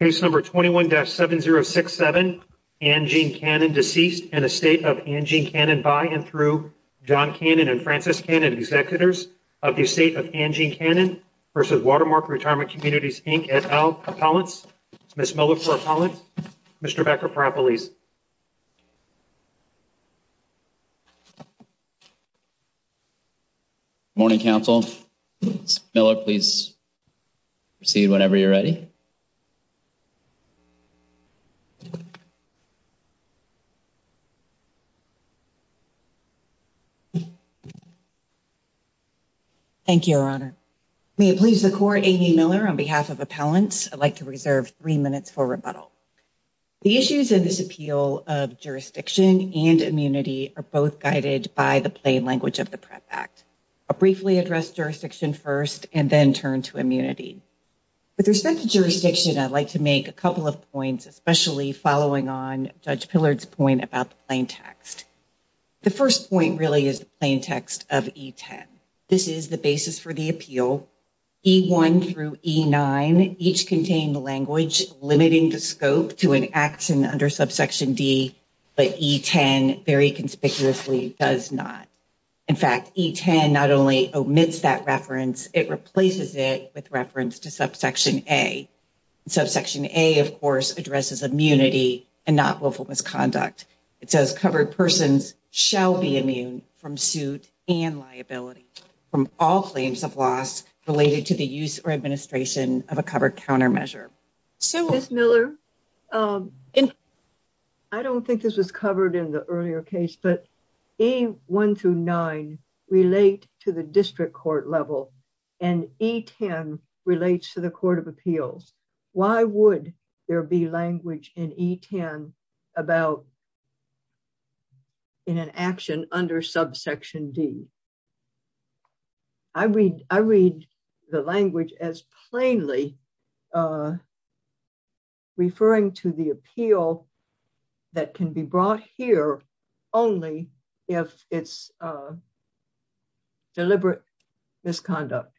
Case number 21-7067, Anne Jean Cannon, deceased in the estate of Anne Jean Cannon by and through John Cannon and Frances Cannon, executors of the estate of Anne Jean Cannon v. Watermark Retirement Communities, Inc. et al. Appellants, Ms. Miller for appellants, Mr. Becker-Parapolis. Morning, Counsel. Ms. Miller, please proceed whenever you're ready. Thank you, Your Honor. May it please the Court, Amy Miller on behalf of appellants, I'd like to reserve three minutes for rebuttal. The issues in this appeal of jurisdiction and immunity are both guided by the plain language of the PREP Act. I'll briefly address jurisdiction first and then turn to immunity. With respect to jurisdiction, I'd like to make a couple of points, especially following on Judge Pillard's point about the plain text. The first point really is the plain text of E10. This is the basis for the appeal. E1 through E9 each contain language limiting the scope to an action under subsection D, but E10 very conspicuously does not. In fact, E10 not only omits that reference, it replaces it with reference to subsection A. Subsection A, of course, addresses immunity and not willful misconduct. It says covered persons shall be immune from suit and liability from all claims of loss related to the use or administration of a covered countermeasure. Ms. Miller? I don't think this was covered in the earlier case, but E1 through E9 relate to the district court level and E10 relates to the Court of Appeals. Why would there be language in E10 about in an action under subsection D? I read the language as plainly referring to the appeal that can be brought here only if it's deliberate misconduct.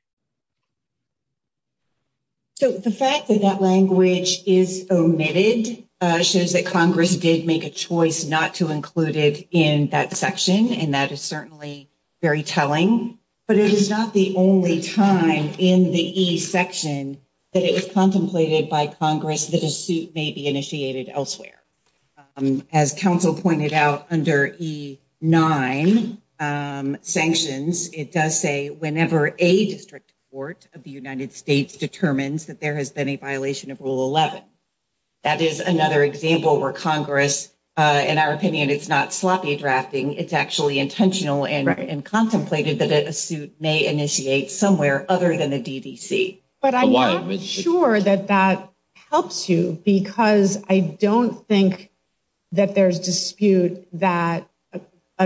So the fact that that language is omitted shows that Congress did make a choice not to include it in that section, and that is certainly very telling. But it is not the only time in the E section that it was contemplated by Congress that a suit may be initiated elsewhere. As counsel pointed out under E9 sanctions, it does say whenever a district court of the United States determines that there has been a violation of Rule 11. That is another example where Congress, in our opinion, it's not sloppy drafting. It's actually intentional and contemplated that a suit may initiate somewhere other than the DDC. But I'm not sure that that helps you because I don't think that there's dispute that an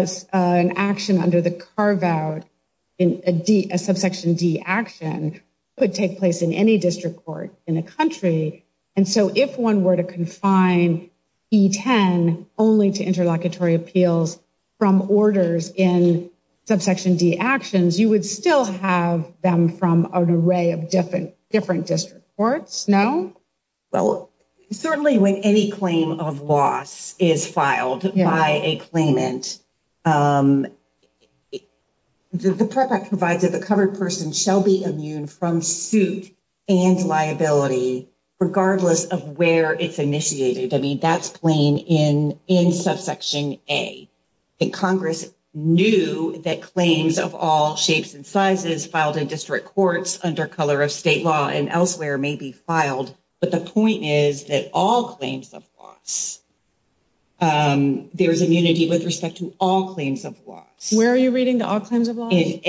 action under the carve-out in a subsection D action could take place in any district court in a country. And so if one were to confine E10 only to interlocutory appeals from orders in subsection D actions, you would still have them from an array of different district courts, no? Well, certainly when any claim of loss is filed by a claimant, the PREP Act provides that the covered person shall be immune from suit and liability regardless of where it's initiated. I mean, that's plain in subsection A. Congress knew that claims of all shapes and sizes filed in district courts under color of state law and elsewhere may be filed. But the point is that all claims of loss, there is immunity with respect to all claims of loss. Where are you reading the all claims of loss? In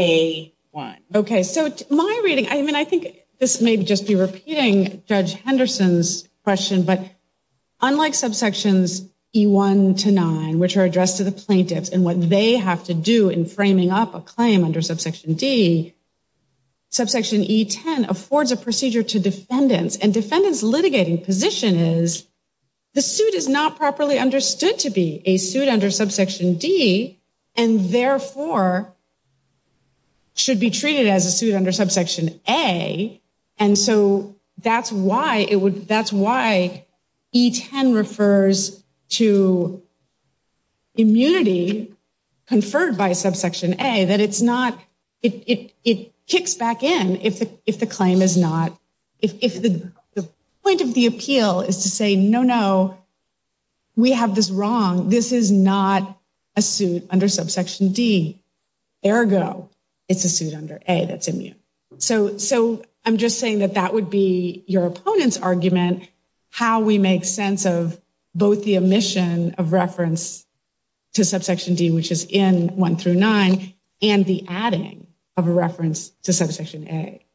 A1. Okay, so my reading, I mean, I think this may just be repeating Judge Henderson's question, but unlike subsections E1 to 9, which are addressed to the plaintiffs and what they have to do in framing up a claim under subsection D, I think subsection E10 affords a procedure to defendants and defendants litigating position is the suit is not properly understood to be a suit under subsection D and therefore should be treated as a suit under subsection A. And so that's why it would, that's why E10 refers to immunity conferred by subsection A that it's not, it kicks back in if the claim is not, if the point of the appeal is to say, no, no, we have this wrong. This is not a suit under subsection D. Ergo, it's a suit under A that's immune. So, so I'm just saying that that would be your opponent's argument, how we make sense of both the omission of reference to subsection D, which is in 1 through 9, and the adding of a reference to subsection A.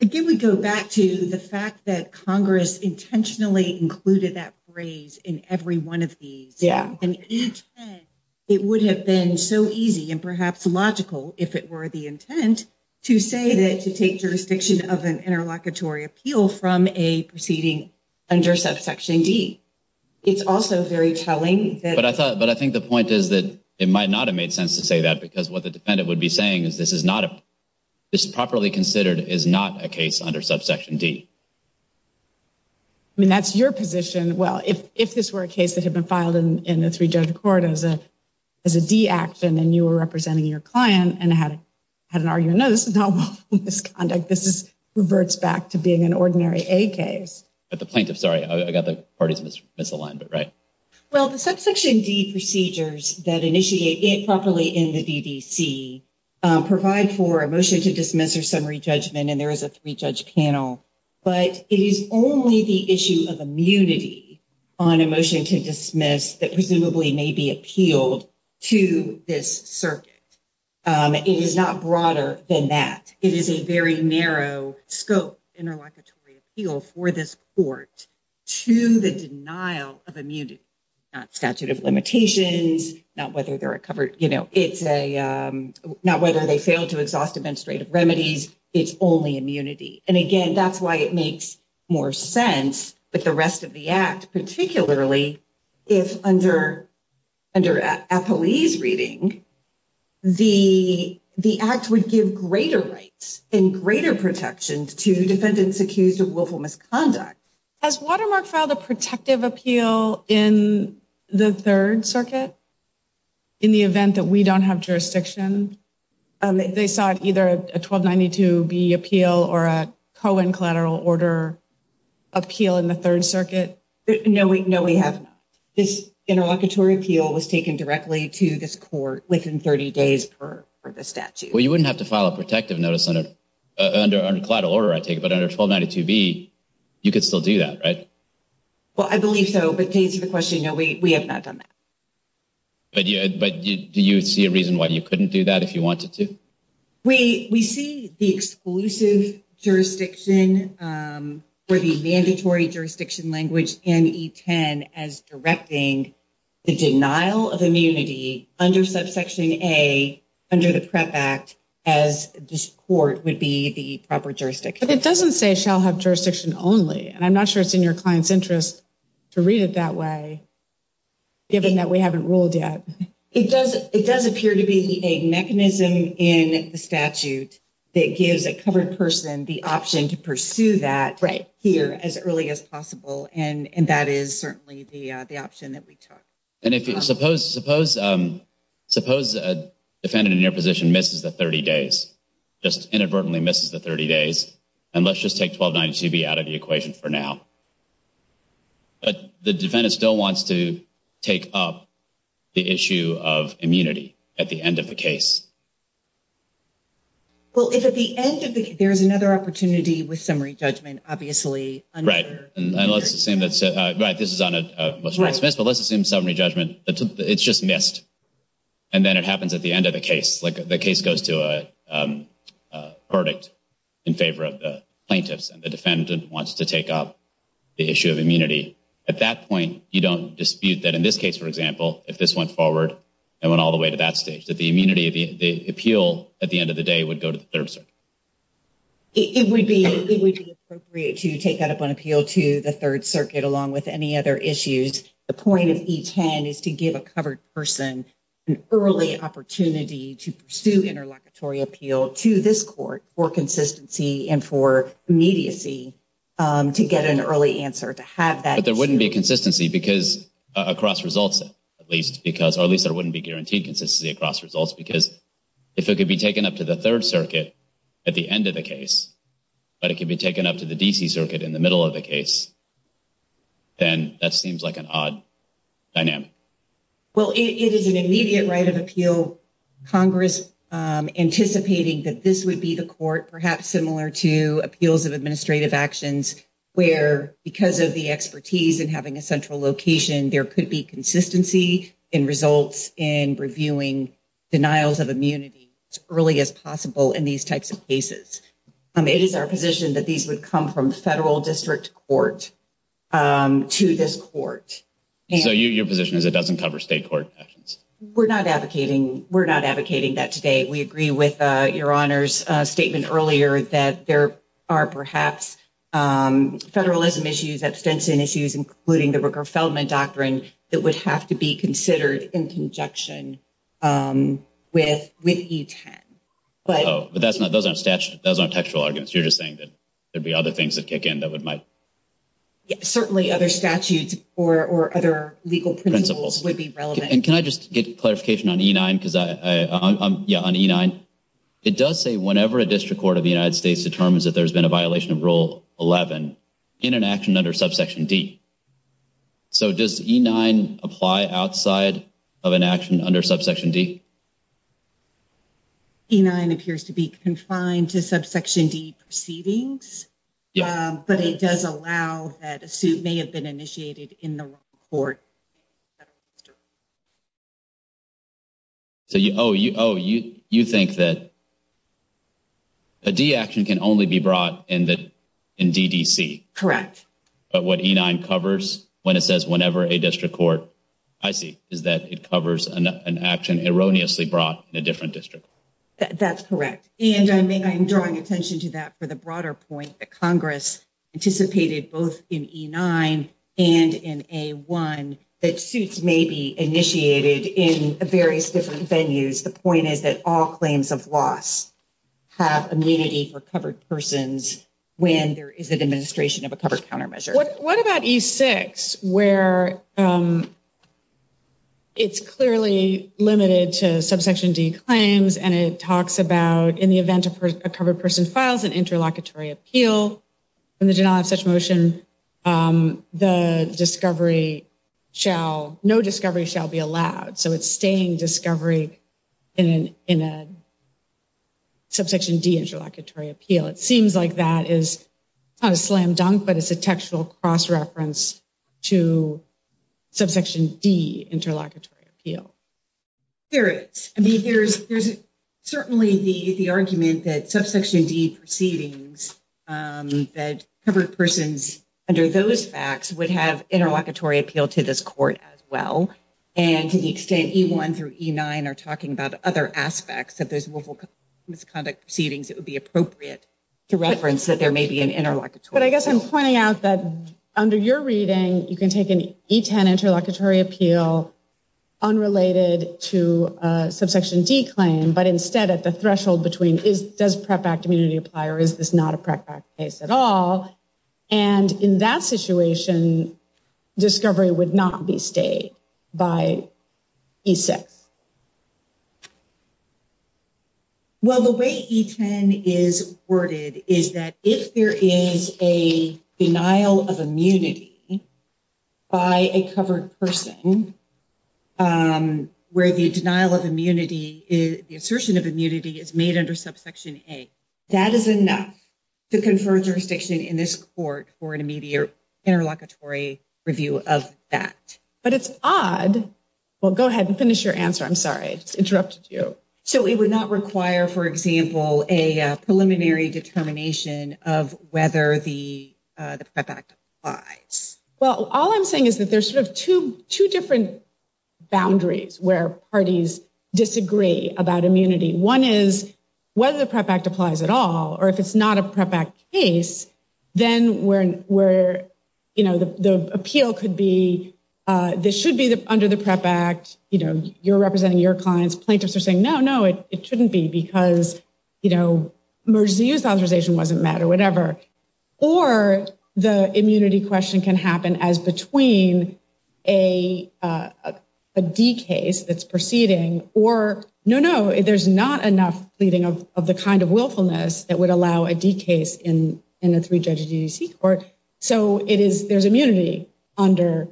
Again, we go back to the fact that Congress intentionally included that phrase in every one of these. Yeah. And it would have been so easy and perhaps logical if it were the intent to say that to take jurisdiction of an interlocutory appeal from a proceeding under subsection D. It's also very telling, but I thought, but I think the point is that it might not have made sense to say that because what the defendant would be saying is this is not a. This is properly considered is not a case under subsection D. I mean, that's your position. Well, if this were a case that had been filed in the three judge court as a, as a D action, and you were representing your client and had had an argument, no, this is not misconduct. This is reverts back to being an ordinary a case at the plaintiff. Sorry. I got the parties misaligned. But right. Well, the subsection D procedures that initiate it properly in the provide for a motion to dismiss or summary judgment, and there is a 3 judge panel. But it is only the issue of immunity on a motion to dismiss that presumably may be appealed to this circuit. It is not broader than that. It is a very narrow scope interlocutory appeal for this port to the denial of immunity statute of limitations. Not whether they're a covered, you know, it's a not whether they fail to exhaust administrative remedies. It's only immunity. And again, that's why it makes more sense. But the rest of the act, particularly if under under a police reading, the, the act would give greater rights and greater protection to defendants accused of willful misconduct as watermark filed a protective appeal in the 3rd circuit. In the event that we don't have jurisdiction, they saw either a 1292 be appeal or a collateral order appeal in the 3rd circuit. No, we know we have this interlocutory appeal was taken directly to this court within 30 days for the statute. Well, you wouldn't have to file a protective notice on it under collateral order. I take it. But under 1292 be, you could still do that. Right? Well, I believe so, but to answer the question, no, we have not done that. But do you see a reason why you couldn't do that if you wanted to? We, we see the exclusive jurisdiction for the mandatory jurisdiction language and as directing. The denial of immunity under subsection a. Under the prep act as this court would be the proper jurisdiction, but it doesn't say shall have jurisdiction only and I'm not sure it's in your client's interest. To read it that way. Given that we haven't ruled yet, it does it does appear to be a mechanism in the statute that gives a covered person the option to pursue that right here as early as possible. And that is certainly the option that we took. And if you suppose, suppose, suppose a defendant in your position misses the 30 days, just inadvertently misses the 30 days. And let's just take 1292 be out of the equation for now. But the defendant still wants to take up the issue of immunity at the end of the case. Well, if at the end of the there's another opportunity with summary judgment, obviously. Right. And let's assume that's right. This is on a dismissed, but let's assume summary judgment. It's just missed. And then it happens at the end of the case. Like, the case goes to a verdict in favor of the plaintiffs and the defendant wants to take up the issue of immunity at that point. You don't dispute that in this case, for example, if this went forward and went all the way to that stage that the immunity of the appeal at the end of the day would go to the 3rd. It would be appropriate to take that up on appeal to the 3rd circuit along with any other issues. The point of each hand is to give a covered person an early opportunity to pursue interlocutory appeal to this court for consistency and for immediacy to get an early answer to have that. But there wouldn't be a consistency because across results, at least, because at least there wouldn't be guaranteed consistency across results, because if it could be taken up to the 3rd circuit. At the end of the case, but it can be taken up to the DC circuit in the middle of the case. Then that seems like an odd dynamic. Well, it is an immediate right of appeal. Congress anticipating that this would be the court, perhaps similar to appeals of administrative actions where because of the expertise and having a central location, there could be consistency in results in reviewing denials of immunity as early as possible in these types of cases. It is our position that these would come from the federal district court to this court. So, your position is it doesn't cover state court actions. We're not advocating. We're not advocating that today. We agree with your honors statement earlier that there are perhaps federalism issues, abstention issues, including the Rooker Feldman doctrine. That would have to be considered in conjunction with with each hand. But that's not those aren't statute doesn't textual arguments. You're just saying that there'd be other things that kick in that would might. Certainly other statutes or other legal principles would be relevant. And can I just get clarification on E9? Yeah, on E9, it does say whenever a district court of the United States determines that there's been a violation of rule 11 in an action under subsection D. So, does E9 apply outside of an action under subsection D? E9 appears to be confined to subsection D proceedings, but it does allow that a suit may have been initiated in the court. So, you think that a D action can only be brought in the DDC? Correct. But what E9 covers when it says whenever a district court, I see, is that it covers an action erroneously brought in a different district. That's correct. And I mean, I'm drawing attention to that for the broader point that Congress anticipated both in E9 and in A1 that suits may be initiated in various different venues. The point is that all claims of loss have immunity for covered persons when there is a demonstration of a covered countermeasure. What about E6 where it's clearly limited to subsection D claims and it talks about in the event of a covered person files an interlocutory appeal, when they do not have such motion, the discovery shall, no discovery shall be allowed. So, it's staying discovery in a subsection D interlocutory appeal. It seems like that is not a slam dunk, but it's a textual cross reference to subsection D interlocutory appeal. There is. I mean, there's certainly the argument that subsection D proceedings that covered persons under those facts would have interlocutory appeal to this court as well. And to the extent E1 through E9 are talking about other aspects of those misconduct proceedings, it would be appropriate to reference that there may be an interlocutory appeal. But I guess I'm pointing out that under your reading, you can take an E10 interlocutory appeal unrelated to subsection D claim, but instead at the threshold between does PREP Act immunity apply or is this not a PREP Act case at all? And in that situation, discovery would not be stayed by E6. Well, the way E10 is worded is that if there is a denial of immunity by a covered person, where the denial of immunity, the assertion of immunity is made under subsection A, that is enough to confer jurisdiction in this court for an immediate interlocutory review of that. But it's odd. Well, go ahead and finish your answer. I'm sorry. I just interrupted you. So it would not require, for example, a preliminary determination of whether the PREP Act applies? Well, all I'm saying is that there's sort of two different boundaries where parties disagree about immunity. One is whether the PREP Act applies at all or if it's not a PREP Act case, then the appeal could be this should be under the PREP Act. You're representing your clients. Plaintiffs are saying, no, no, it shouldn't be because emergency use authorization wasn't met or whatever. Or the immunity question can happen as between a D case that's proceeding or no, no, there's not enough pleading of the kind of willfulness that would allow a D case in a three-judge DDC court. So it is there's immunity under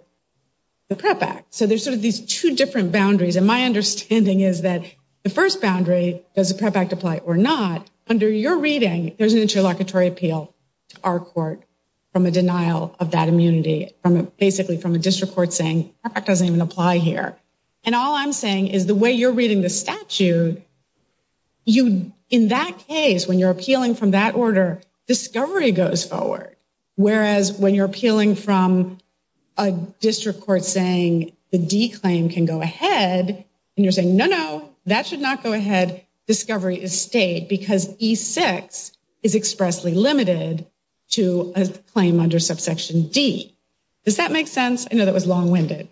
the PREP Act. So there's sort of these two different boundaries. And my understanding is that the first boundary, does the PREP Act apply or not? Under your reading, there's an interlocutory appeal to our court from a denial of that immunity from basically from a district court saying that doesn't even apply here. And all I'm saying is the way you're reading the statute, you in that case, when you're appealing from that order, discovery goes forward. Whereas when you're appealing from a district court saying the D claim can go ahead and you're saying, no, no, that should not go ahead. Discovery is stayed because E6 is expressly limited to a claim under subsection D. Does that make sense? I know that was long winded.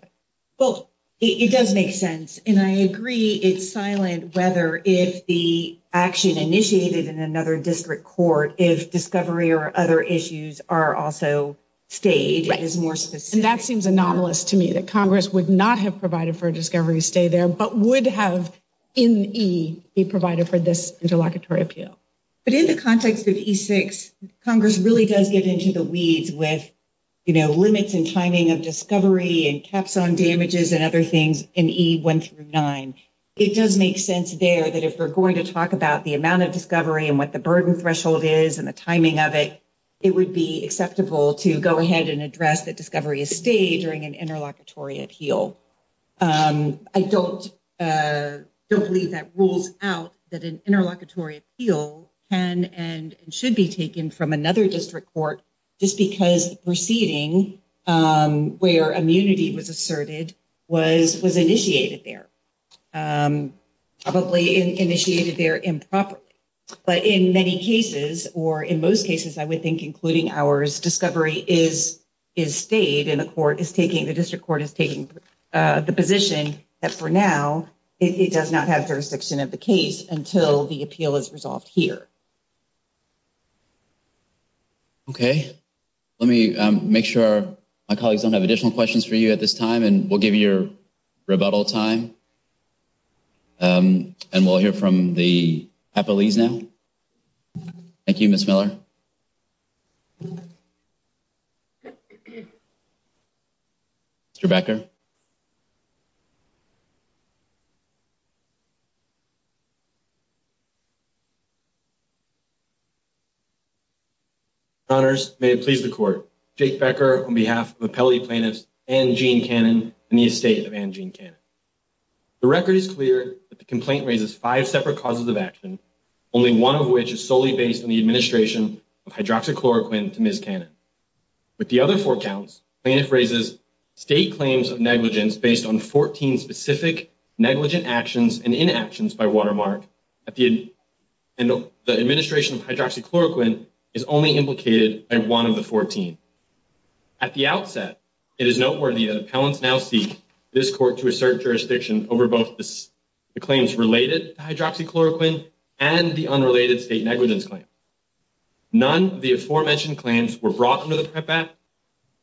Well, it does make sense. And I agree it's silent whether if the action initiated in another district court, if discovery or other issues are also stayed is more specific. And that seems anomalous to me that Congress would not have provided for discovery stay there, but would have in E be provided for this interlocutory appeal. But in the context of E6, Congress really does get into the weeds with, you know, limits and timing of discovery and caps on damages and other things in E1 through 9. It does make sense there that if we're going to talk about the amount of discovery and what the burden threshold is and the timing of it, it would be acceptable to go ahead and address that discovery is stayed during an interlocutory appeal. I don't believe that rules out that an interlocutory appeal can and should be taken from another district court just because proceeding where immunity was asserted was initiated there, probably initiated there improperly. But in many cases, or in most cases, I would think, including ours, discovery is is stayed in the court is taking the district court is taking the position that for now, it does not have jurisdiction of the case until the appeal is resolved here. Okay, let me make sure my colleagues don't have additional questions for you at this time and we'll give you your rebuttal time. And we'll hear from the police now. Thank you, Miss Miller. Rebecca. Thank you. Honors, may it please the court. Jake Becker on behalf of appellee plaintiffs and Gene Cannon in the estate of Angie. The record is clear that the complaint raises five separate causes of action, only one of which is solely based on the administration of hydroxychloroquine to Miss Cannon. But the other four counts raises state claims of negligence based on 14 specific negligent actions and inactions by watermark at the end of the administration of hydroxychloroquine is only implicated and one of the 14. At the outset, it is noteworthy that appellants now seek this court to assert jurisdiction over both the claims related hydroxychloroquine and the unrelated state negligence claim. None of the aforementioned claims were brought into the prep app,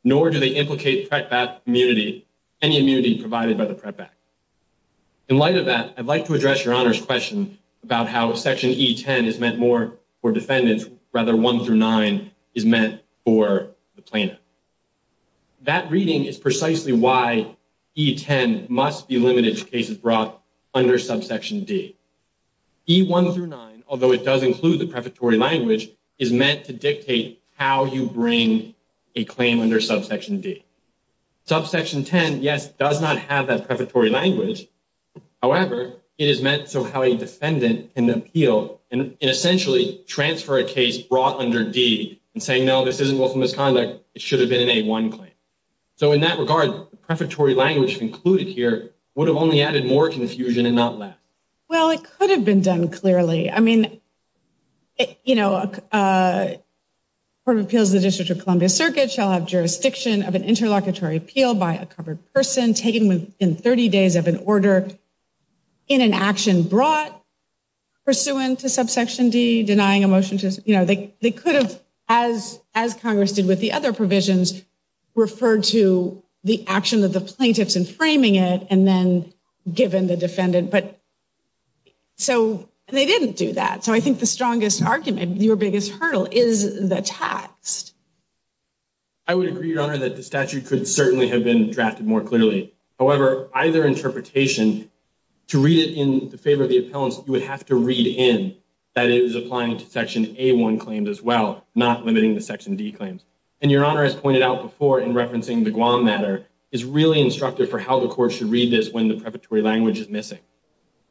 nor do they implicate that community any immunity provided by the prep app. In light of that, I'd like to address your honors question about how section E10 is meant more for defendants rather one through nine is meant for the plaintiff. That reading is precisely why E10 must be limited to cases brought under subsection D. E1 through nine, although it does include the preparatory language, is meant to dictate how you bring a claim under subsection D. Subsection 10, yes, does not have that preparatory language. However, it is meant so how a defendant can appeal and essentially transfer a case brought under D and saying, no, this isn't willful misconduct. It should have been an A1 claim. So in that regard, preparatory language included here would have only added more confusion and not less. Well, it could have been done clearly. I mean, you know, a court of appeals, the District of Columbia Circuit shall have jurisdiction of an interlocutory appeal by a covered person taken within 30 days of an order. In an action brought pursuant to subsection D denying a motion to, you know, they could have as as Congress did with the other provisions referred to the action of the plaintiffs and framing it and then given the defendant. But so they didn't do that. So I think the strongest argument, your biggest hurdle is the text. I would agree, Your Honor, that the statute could certainly have been drafted more clearly. However, either interpretation to read it in favor of the appellants, you would have to read in that is applying to section A1 claims as well, not limiting the section D claims. And Your Honor has pointed out before in referencing the Guam matter is really instructive for how the court should read this when the preparatory language is missing.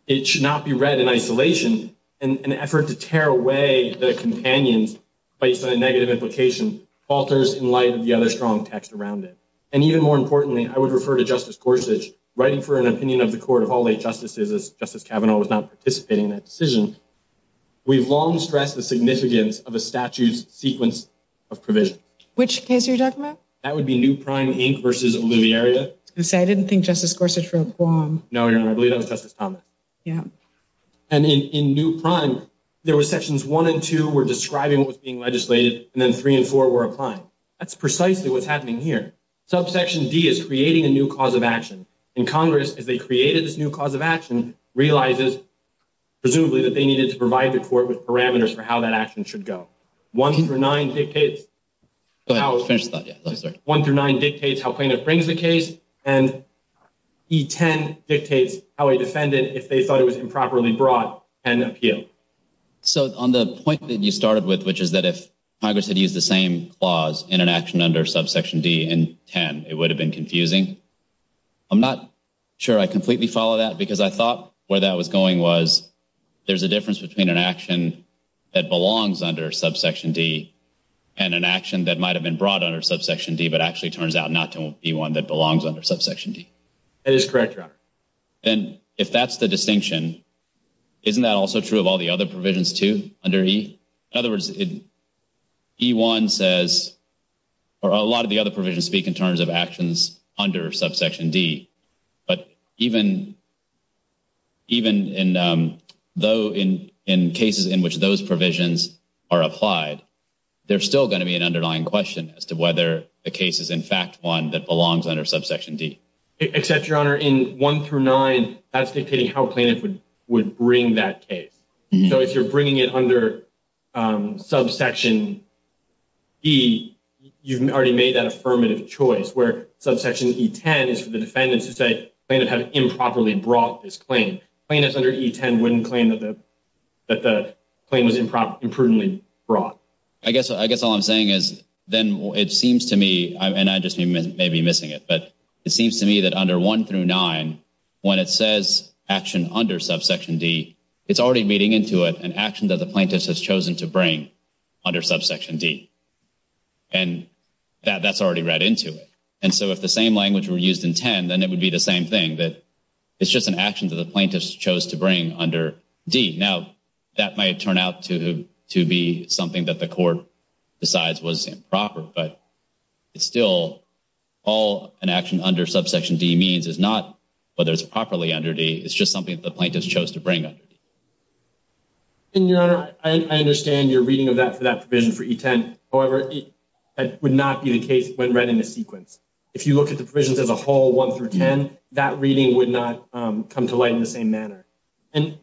It should not be read in isolation. An effort to tear away the companions based on a negative implication alters in light of the other strong text around it. And even more importantly, I would refer to Justice Gorsuch writing for an opinion of the court of all eight justices as Justice Kavanaugh was not participating in that decision. We've long stressed the significance of a statute's sequence of provision. Which case are you talking about? That would be New Prime, Inc. versus Oliviaria. I was going to say, I didn't think Justice Gorsuch wrote Guam. No, Your Honor, I believe that was Justice Thomas. Yeah. And in New Prime, there were sections one and two were describing what was being legislated, and then three and four were applying. That's precisely what's happening here. Subsection D is creating a new cause of action. And Congress, as they created this new cause of action, realizes, presumably, that they needed to provide the court with parameters for how that action should go. One through nine dictates how plaintiff brings the case. And E10 dictates how a defendant, if they thought it was improperly brought, can appeal. So, on the point that you started with, which is that if Congress had used the same clause in an action under subsection D in 10, it would have been confusing. I'm not sure I completely follow that, because I thought where that was going was, there's a difference between an action that belongs under subsection D and an action that might have been brought under subsection D, but actually turns out not to be one that belongs under subsection D. That is correct, Your Honor. And if that's the distinction, isn't that also true of all the other provisions, too, under E? In other words, E1 says, or a lot of the other provisions speak in terms of actions under subsection D. But even in cases in which those provisions are applied, there's still going to be an underlying question as to whether the case is, in fact, one that belongs under subsection D. Except, Your Honor, in one through nine, that's dictating how plaintiff would bring that case. So, if you're bringing it under subsection E, you've already made that affirmative choice, where subsection E10 is for the defendants to say plaintiff had improperly brought this claim. Plaintiffs under E10 wouldn't claim that the claim was imprudently brought. I guess all I'm saying is then it seems to me, and I just may be missing it, but it seems to me that under one through nine, when it says action under subsection D, it's already reading into it an action that the plaintiff has chosen to bring under subsection D. And that's already read into it. And so if the same language were used in 10, then it would be the same thing, that it's just an action that the plaintiff chose to bring under D. Now, that might turn out to be something that the court decides was improper, but it's still all an action under subsection D means is not whether it's properly under D. It's just something that the plaintiff chose to bring under D. And, Your Honor, I understand your reading of that for that provision for E10. However, it would not be the case when read in a sequence. If you look at the provisions as a whole, one through 10, that reading would not come to light in the same manner. And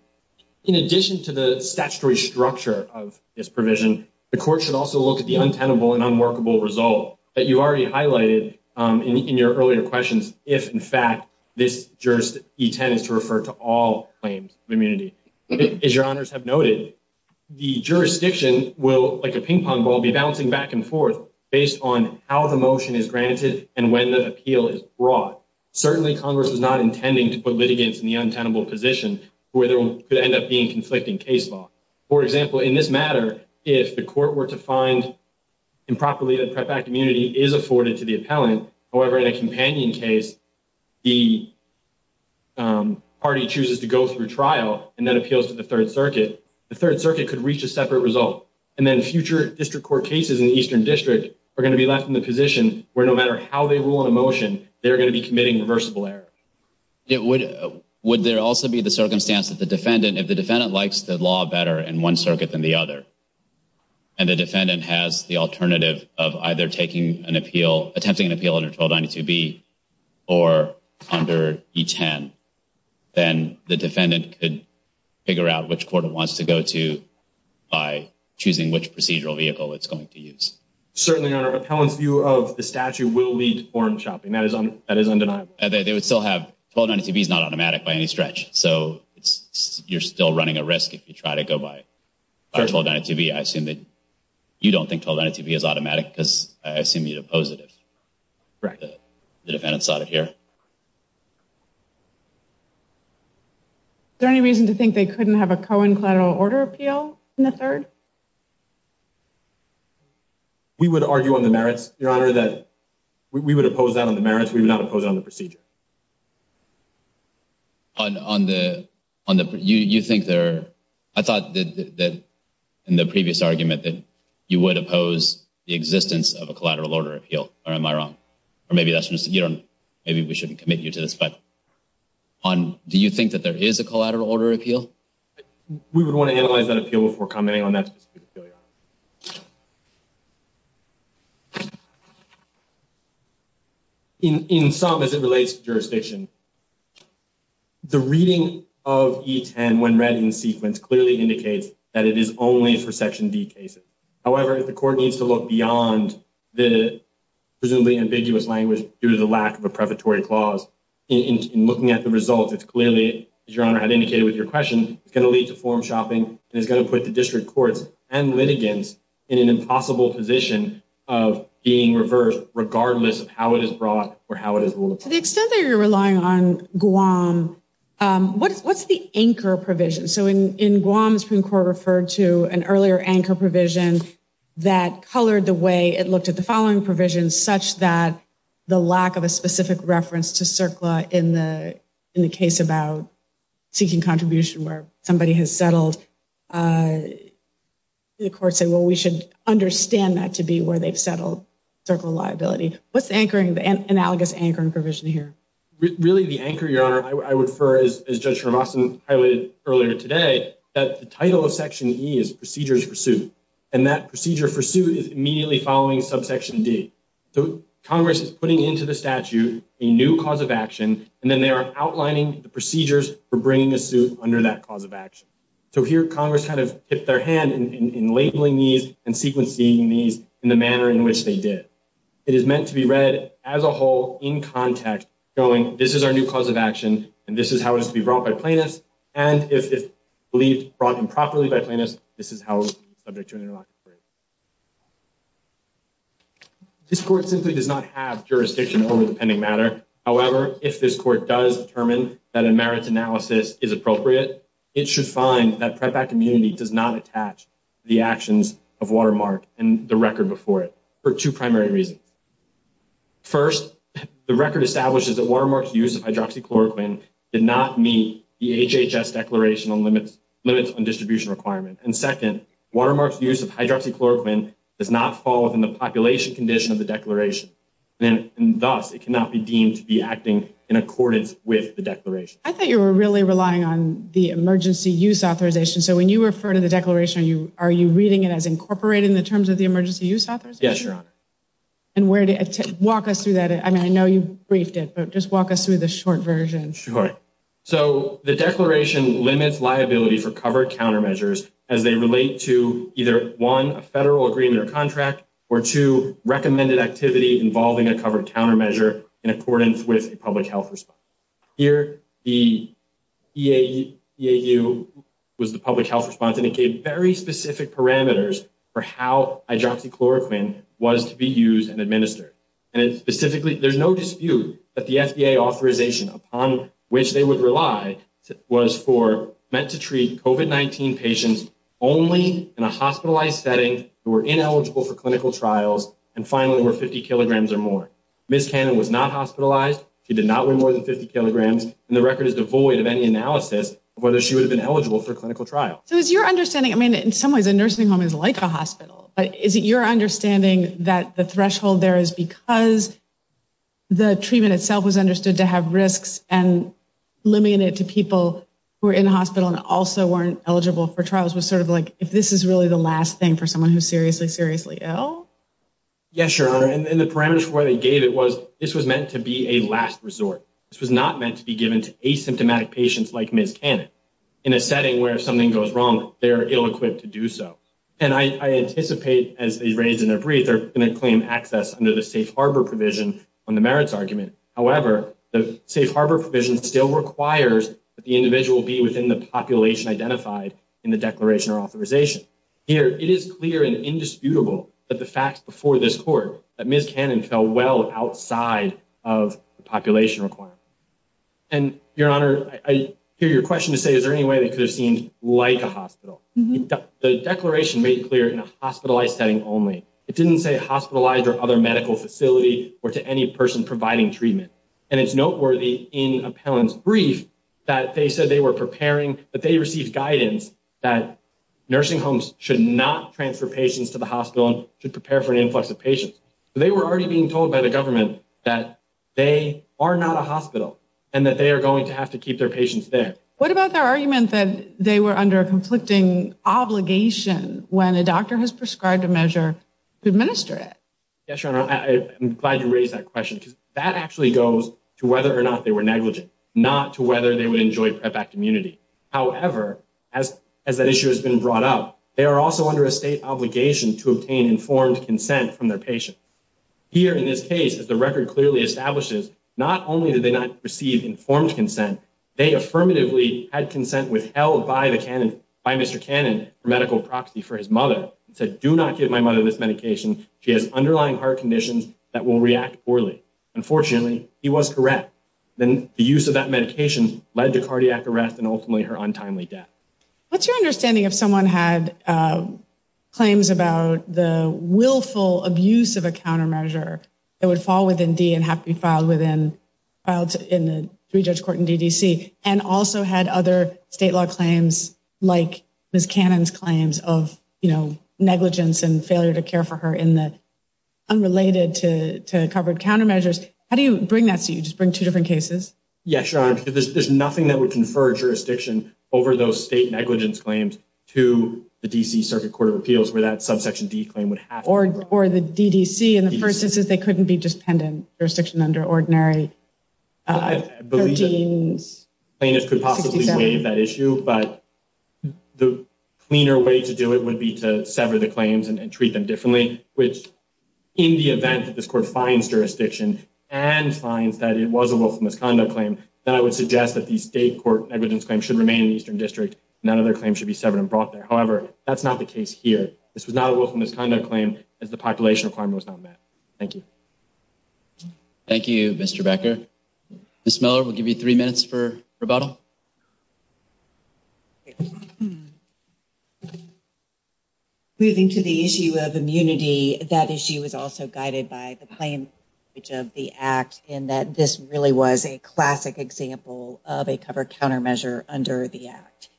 in addition to the statutory structure of this provision, the court should also look at the untenable and unworkable result that you already highlighted in your earlier questions, if, in fact, this E10 is to refer to all claims of immunity. As Your Honors have noted, the jurisdiction will, like a ping pong ball, be bouncing back and forth based on how the motion is granted and when the appeal is brought. Certainly, Congress is not intending to put litigants in the untenable position where there could end up being conflicting case law. For example, in this matter, if the court were to find improperly that PrEP Act immunity is afforded to the appellant, however, in a companion case, the party chooses to go through trial and then appeals to the Third Circuit, the Third Circuit could reach a separate result. And then future district court cases in the Eastern District are going to be left in the position where no matter how they rule in a motion, they're going to be committing reversible error. Would there also be the circumstance that the defendant, if the defendant likes the law better in one circuit than the other, and the defendant has the alternative of either taking an appeal, attempting an appeal under 1292B or under E10, then the defendant could figure out which court it wants to go to by choosing which procedural vehicle it's going to use? Certainly, Your Honor. Appellant's view of the statute will lead to form-shopping. That is undeniable. They would still have 1292B is not automatic by any stretch. So you're still running a risk if you try to go by 1292B. I assume that you don't think 1292B is automatic because I assume you'd oppose it if the defendant saw it here. Is there any reason to think they couldn't have a co-in collateral order appeal in the Third? We would argue on the merits, Your Honor, that we would oppose that on the merits. We would not oppose it on the procedure. On the, on the, you think there, I thought that in the previous argument that you would oppose the existence of a collateral order appeal. Or am I wrong? Or maybe that's just, you don't, maybe we shouldn't commit you to this. But on, do you think that there is a collateral order appeal? We would want to analyze that appeal before commenting on that specific appeal, Your Honor. In some, as it relates to jurisdiction, the reading of E10 when read in sequence clearly indicates that it is only for Section D cases. However, the court needs to look beyond the presumably ambiguous language due to the lack of a preparatory clause. In looking at the results, it's clearly, as Your Honor had indicated with your question, it's going to lead to form shopping and it's going to put the district courts and litigants in an impossible position of being reversed regardless of how it is brought or how it is ruled upon. To the extent that you're relying on Guam, what's the anchor provision? So in Guam, the Supreme Court referred to an earlier anchor provision that colored the way it looked at the following provisions, such that the lack of a specific reference to CERCLA in the case about seeking contribution where somebody has settled, the court said, well, we should understand that to be where they've settled CERCLA liability. What's the anchoring, the analogous anchoring provision here? Really, the anchor, Your Honor, I would refer, as Judge Hrabowski highlighted earlier today, that the title of Section E is procedures for suit, and that procedure for suit is immediately following subsection D. So Congress is putting into the statute a new cause of action, and then they are outlining the procedures for bringing a suit under that cause of action. So here, Congress kind of tipped their hand in labeling these and sequencing these in the manner in which they did. It is meant to be read as a whole in context, going, this is our new cause of action, and this is how it is to be brought by plaintiffs, and if it's believed brought improperly by plaintiffs, this is how it will be subject to an interlocutor. This court simply does not have jurisdiction over the pending matter. However, if this court does determine that a merits analysis is appropriate, it should find that PREP Act immunity does not attach the actions of Watermark and the record before it for two primary reasons. First, the record establishes that Watermark's use of hydroxychloroquine did not meet the HHS declaration on limits on distribution requirements, and second, Watermark's use of hydroxychloroquine does not fall within the population condition of the declaration, and thus it cannot be deemed to be acting in accordance with the declaration. I thought you were really relying on the emergency use authorization. So when you refer to the declaration, are you reading it as incorporated in the terms of the emergency use authorization? Yes, Your Honor. And walk us through that. I mean, I know you briefed it, but just walk us through the short version. Sure. So the declaration limits liability for covered countermeasures as they relate to either, one, a federal agreement or contract, or two, recommended activity involving a covered countermeasure in accordance with a public health response. Here, the EAU was the public health response, and it gave very specific parameters for how hydroxychloroquine was to be used and administered. And specifically, there's no dispute that the FDA authorization upon which they would rely was meant to treat COVID-19 patients only in a hospitalized setting who were ineligible for clinical trials and finally were 50 kilograms or more. Ms. Cannon was not hospitalized. She did not weigh more than 50 kilograms, and the record is devoid of any analysis of whether she would have been eligible for clinical trial. So is your understanding, I mean, in some ways, a nursing home is like a hospital, but is it your understanding that the threshold there is because the treatment itself was understood to have risks and limit it to people who are in hospital and also weren't eligible for trials was sort of like, if this is really the last thing for someone who's seriously, seriously ill? Yes, Your Honor. And the parameters for why they gave it was this was meant to be a last resort. This was not meant to be given to asymptomatic patients like Ms. Cannon in a setting where if something goes wrong, they're ill-equipped to do so. And I anticipate, as they raised in their brief, they're going to claim access under the safe harbor provision on the merits argument. However, the safe harbor provision still requires that the individual be within the population identified in the declaration or authorization. Here, it is clear and indisputable that the facts before this court that Ms. Cannon fell well outside of the population requirement. And, Your Honor, I hear your question to say, is there any way that could have seemed like a hospital? The declaration made clear in a hospitalized setting only. It didn't say hospitalized or other medical facility or to any person providing treatment. And it's noteworthy in Appellant's brief that they said they were preparing, that they received guidance that nursing homes should not transfer patients to the hospital and should prepare for an influx of patients. They were already being told by the government that they are not a hospital and that they are going to have to keep their patients there. What about their argument that they were under a conflicting obligation when a doctor has prescribed a measure to administer it? Yes, Your Honor, I'm glad you raised that question because that actually goes to whether or not they were negligent, not to whether they would enjoy PrEP Act immunity. However, as that issue has been brought up, they are also under a state obligation to obtain informed consent from their patients. Here, in this case, as the record clearly establishes, not only did they not receive informed consent, they affirmatively had consent withheld by Mr. Cannon for medical proxy for his mother. He said, do not give my mother this medication. She has underlying heart conditions that will react poorly. Unfortunately, he was correct. Then the use of that medication led to cardiac arrest and ultimately her untimely death. What's your understanding if someone had claims about the willful abuse of a countermeasure that would fall within D and have to be filed in the three-judge court in D.D.C. and also had other state law claims like Ms. Cannon's claims of negligence and failure to care for her in the unrelated to covered countermeasures? How do you bring that to you? Do you just bring two different cases? Yes, Your Honor, because there's nothing that would confer jurisdiction over those state negligence claims to the D.C. Circuit Court of Appeals where that subsection D claim would have to be covered. Or the D.D.C. in the first instance, they couldn't be just pending jurisdiction under ordinary 1367? I believe plaintiffs could possibly waive that issue, but the cleaner way to do it would be to sever the claims and treat them differently, which in the event that this court finds jurisdiction and finds that it was a willful misconduct claim, then I would suggest that the state court negligence claim should remain in the Eastern District. None of their claims should be severed and brought there. However, that's not the case here. This was not a willful misconduct claim as the population requirement was not met. Thank you. Thank you, Mr. Becker. Ms. Miller, we'll give you three minutes for rebuttal. Moving to the issue of immunity, that issue is also guided by the plain language of the Act in that this really was a classic example of a covered countermeasure under the Act.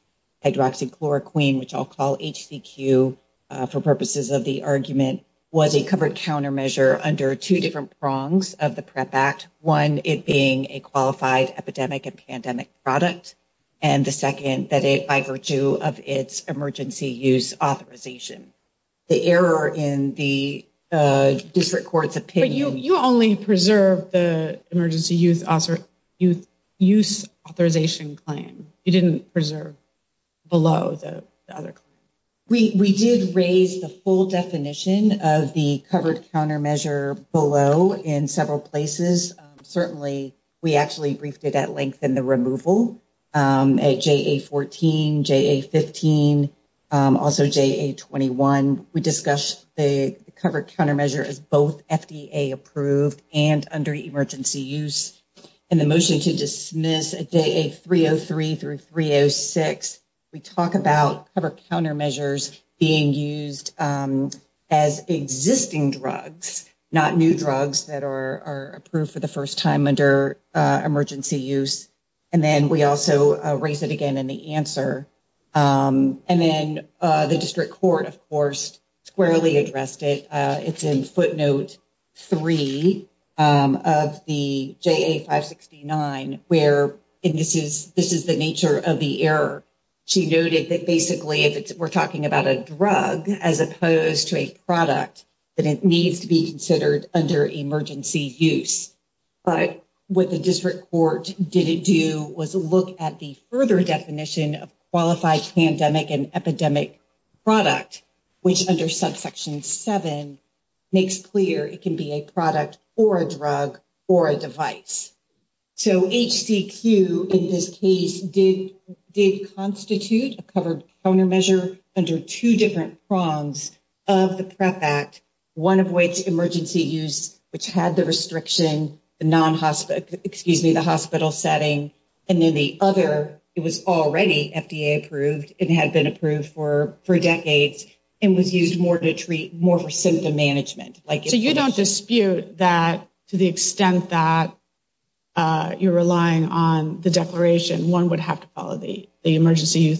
Hydroxychloroquine, which I'll call HCQ for purposes of the argument, was a covered countermeasure under two different prongs of the PREP Act, one, it being a qualified epidemic and pandemic product, and the second, that it by virtue of its emergency use authorization. The error in the district court's opinion… But you only preserved the emergency use authorization claim. You didn't preserve below the other claim. We did raise the full definition of the covered countermeasure below in several places. Certainly, we actually briefed it at length in the removal at JA-14, JA-15, also JA-21. We discussed the covered countermeasure as both FDA-approved and under emergency use. In the motion to dismiss at JA-303 through 306, we talk about covered countermeasures being used as existing drugs, not new drugs that are approved for the first time under emergency use. And then we also raise it again in the answer. And then the district court, of course, squarely addressed it. It's in footnote 3 of the JA-569, where this is the nature of the error. She noted that basically if we're talking about a drug as opposed to a product, that it needs to be considered under emergency use. But what the district court didn't do was look at the further definition of qualified pandemic and epidemic product, which under subsection 7 makes clear it can be a product or a drug or a device. So HCQ in this case did constitute a covered countermeasure under two different prongs of the PREP Act, one of which emergency use, which had the restriction, the non-hospital, excuse me, the hospital setting. And then the other, it was already FDA-approved. It had been approved for decades and was used more to treat, more for symptom management. So you don't dispute that to the extent that you're relying on the declaration, one would have to follow the emergency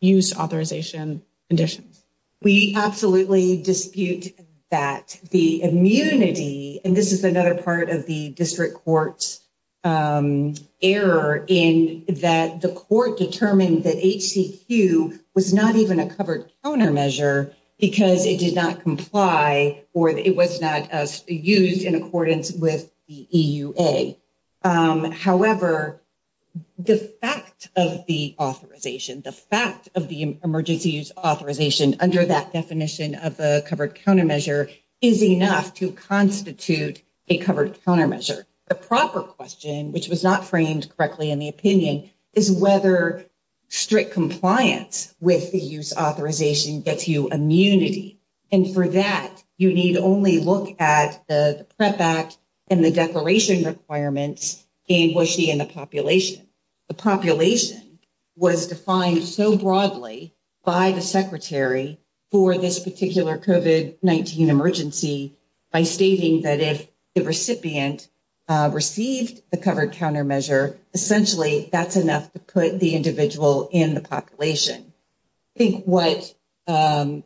use authorization conditions? We absolutely dispute that. The immunity, and this is another part of the district court's error in that the court determined that HCQ was not even a covered countermeasure because it did not comply or it was not used in accordance with the EUA. However, the fact of the authorization, the fact of the emergency use authorization under that definition of a covered countermeasure is enough to constitute a covered countermeasure. The proper question, which was not framed correctly in the opinion, is whether strict compliance with the use authorization gets you immunity. For that, you need only look at the PREP Act and the declaration requirements and was she in the population. The population was defined so broadly by the Secretary for this particular COVID-19 emergency by stating that if the recipient received the covered countermeasure, essentially that's enough to put the individual in the population. I think what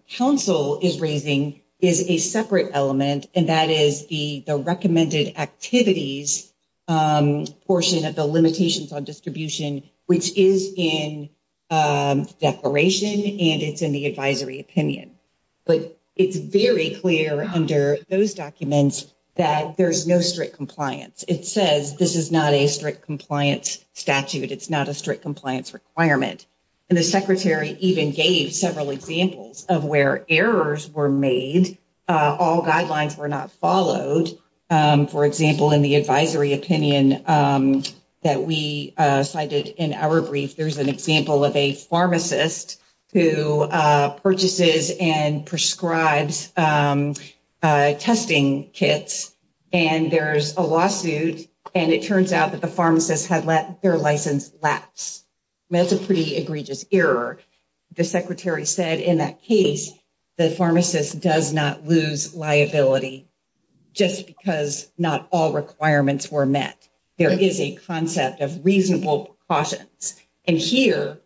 council is raising is a separate element and that is the recommended activities portion of the limitations on distribution, which is in declaration and it's in the advisory opinion. But it's very clear under those documents that there's no strict compliance. It says this is not a strict compliance statute. It's not a strict compliance requirement. And the secretary even gave several examples of where errors were made. All guidelines were not followed. For example, in the advisory opinion that we cited in our brief, there's an example of a pharmacist who purchases and prescribes testing kits. And there's a lawsuit and it turns out that the pharmacist had let their license lapse. That's a pretty egregious error. The secretary said in that case the pharmacist does not lose liability just because not all requirements were met. There is a concept of reasonable precautions. And here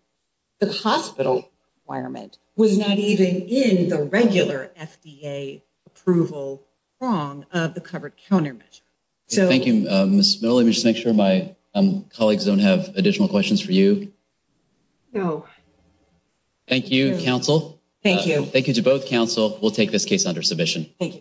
the hospital requirement was not even in the regular FDA approval prong of the covered countermeasure. Thank you, Ms. Miller. Let me just make sure my colleagues don't have additional questions for you. No. Thank you, council. Thank you. Thank you to both council. We'll take this case under submission. Thank you.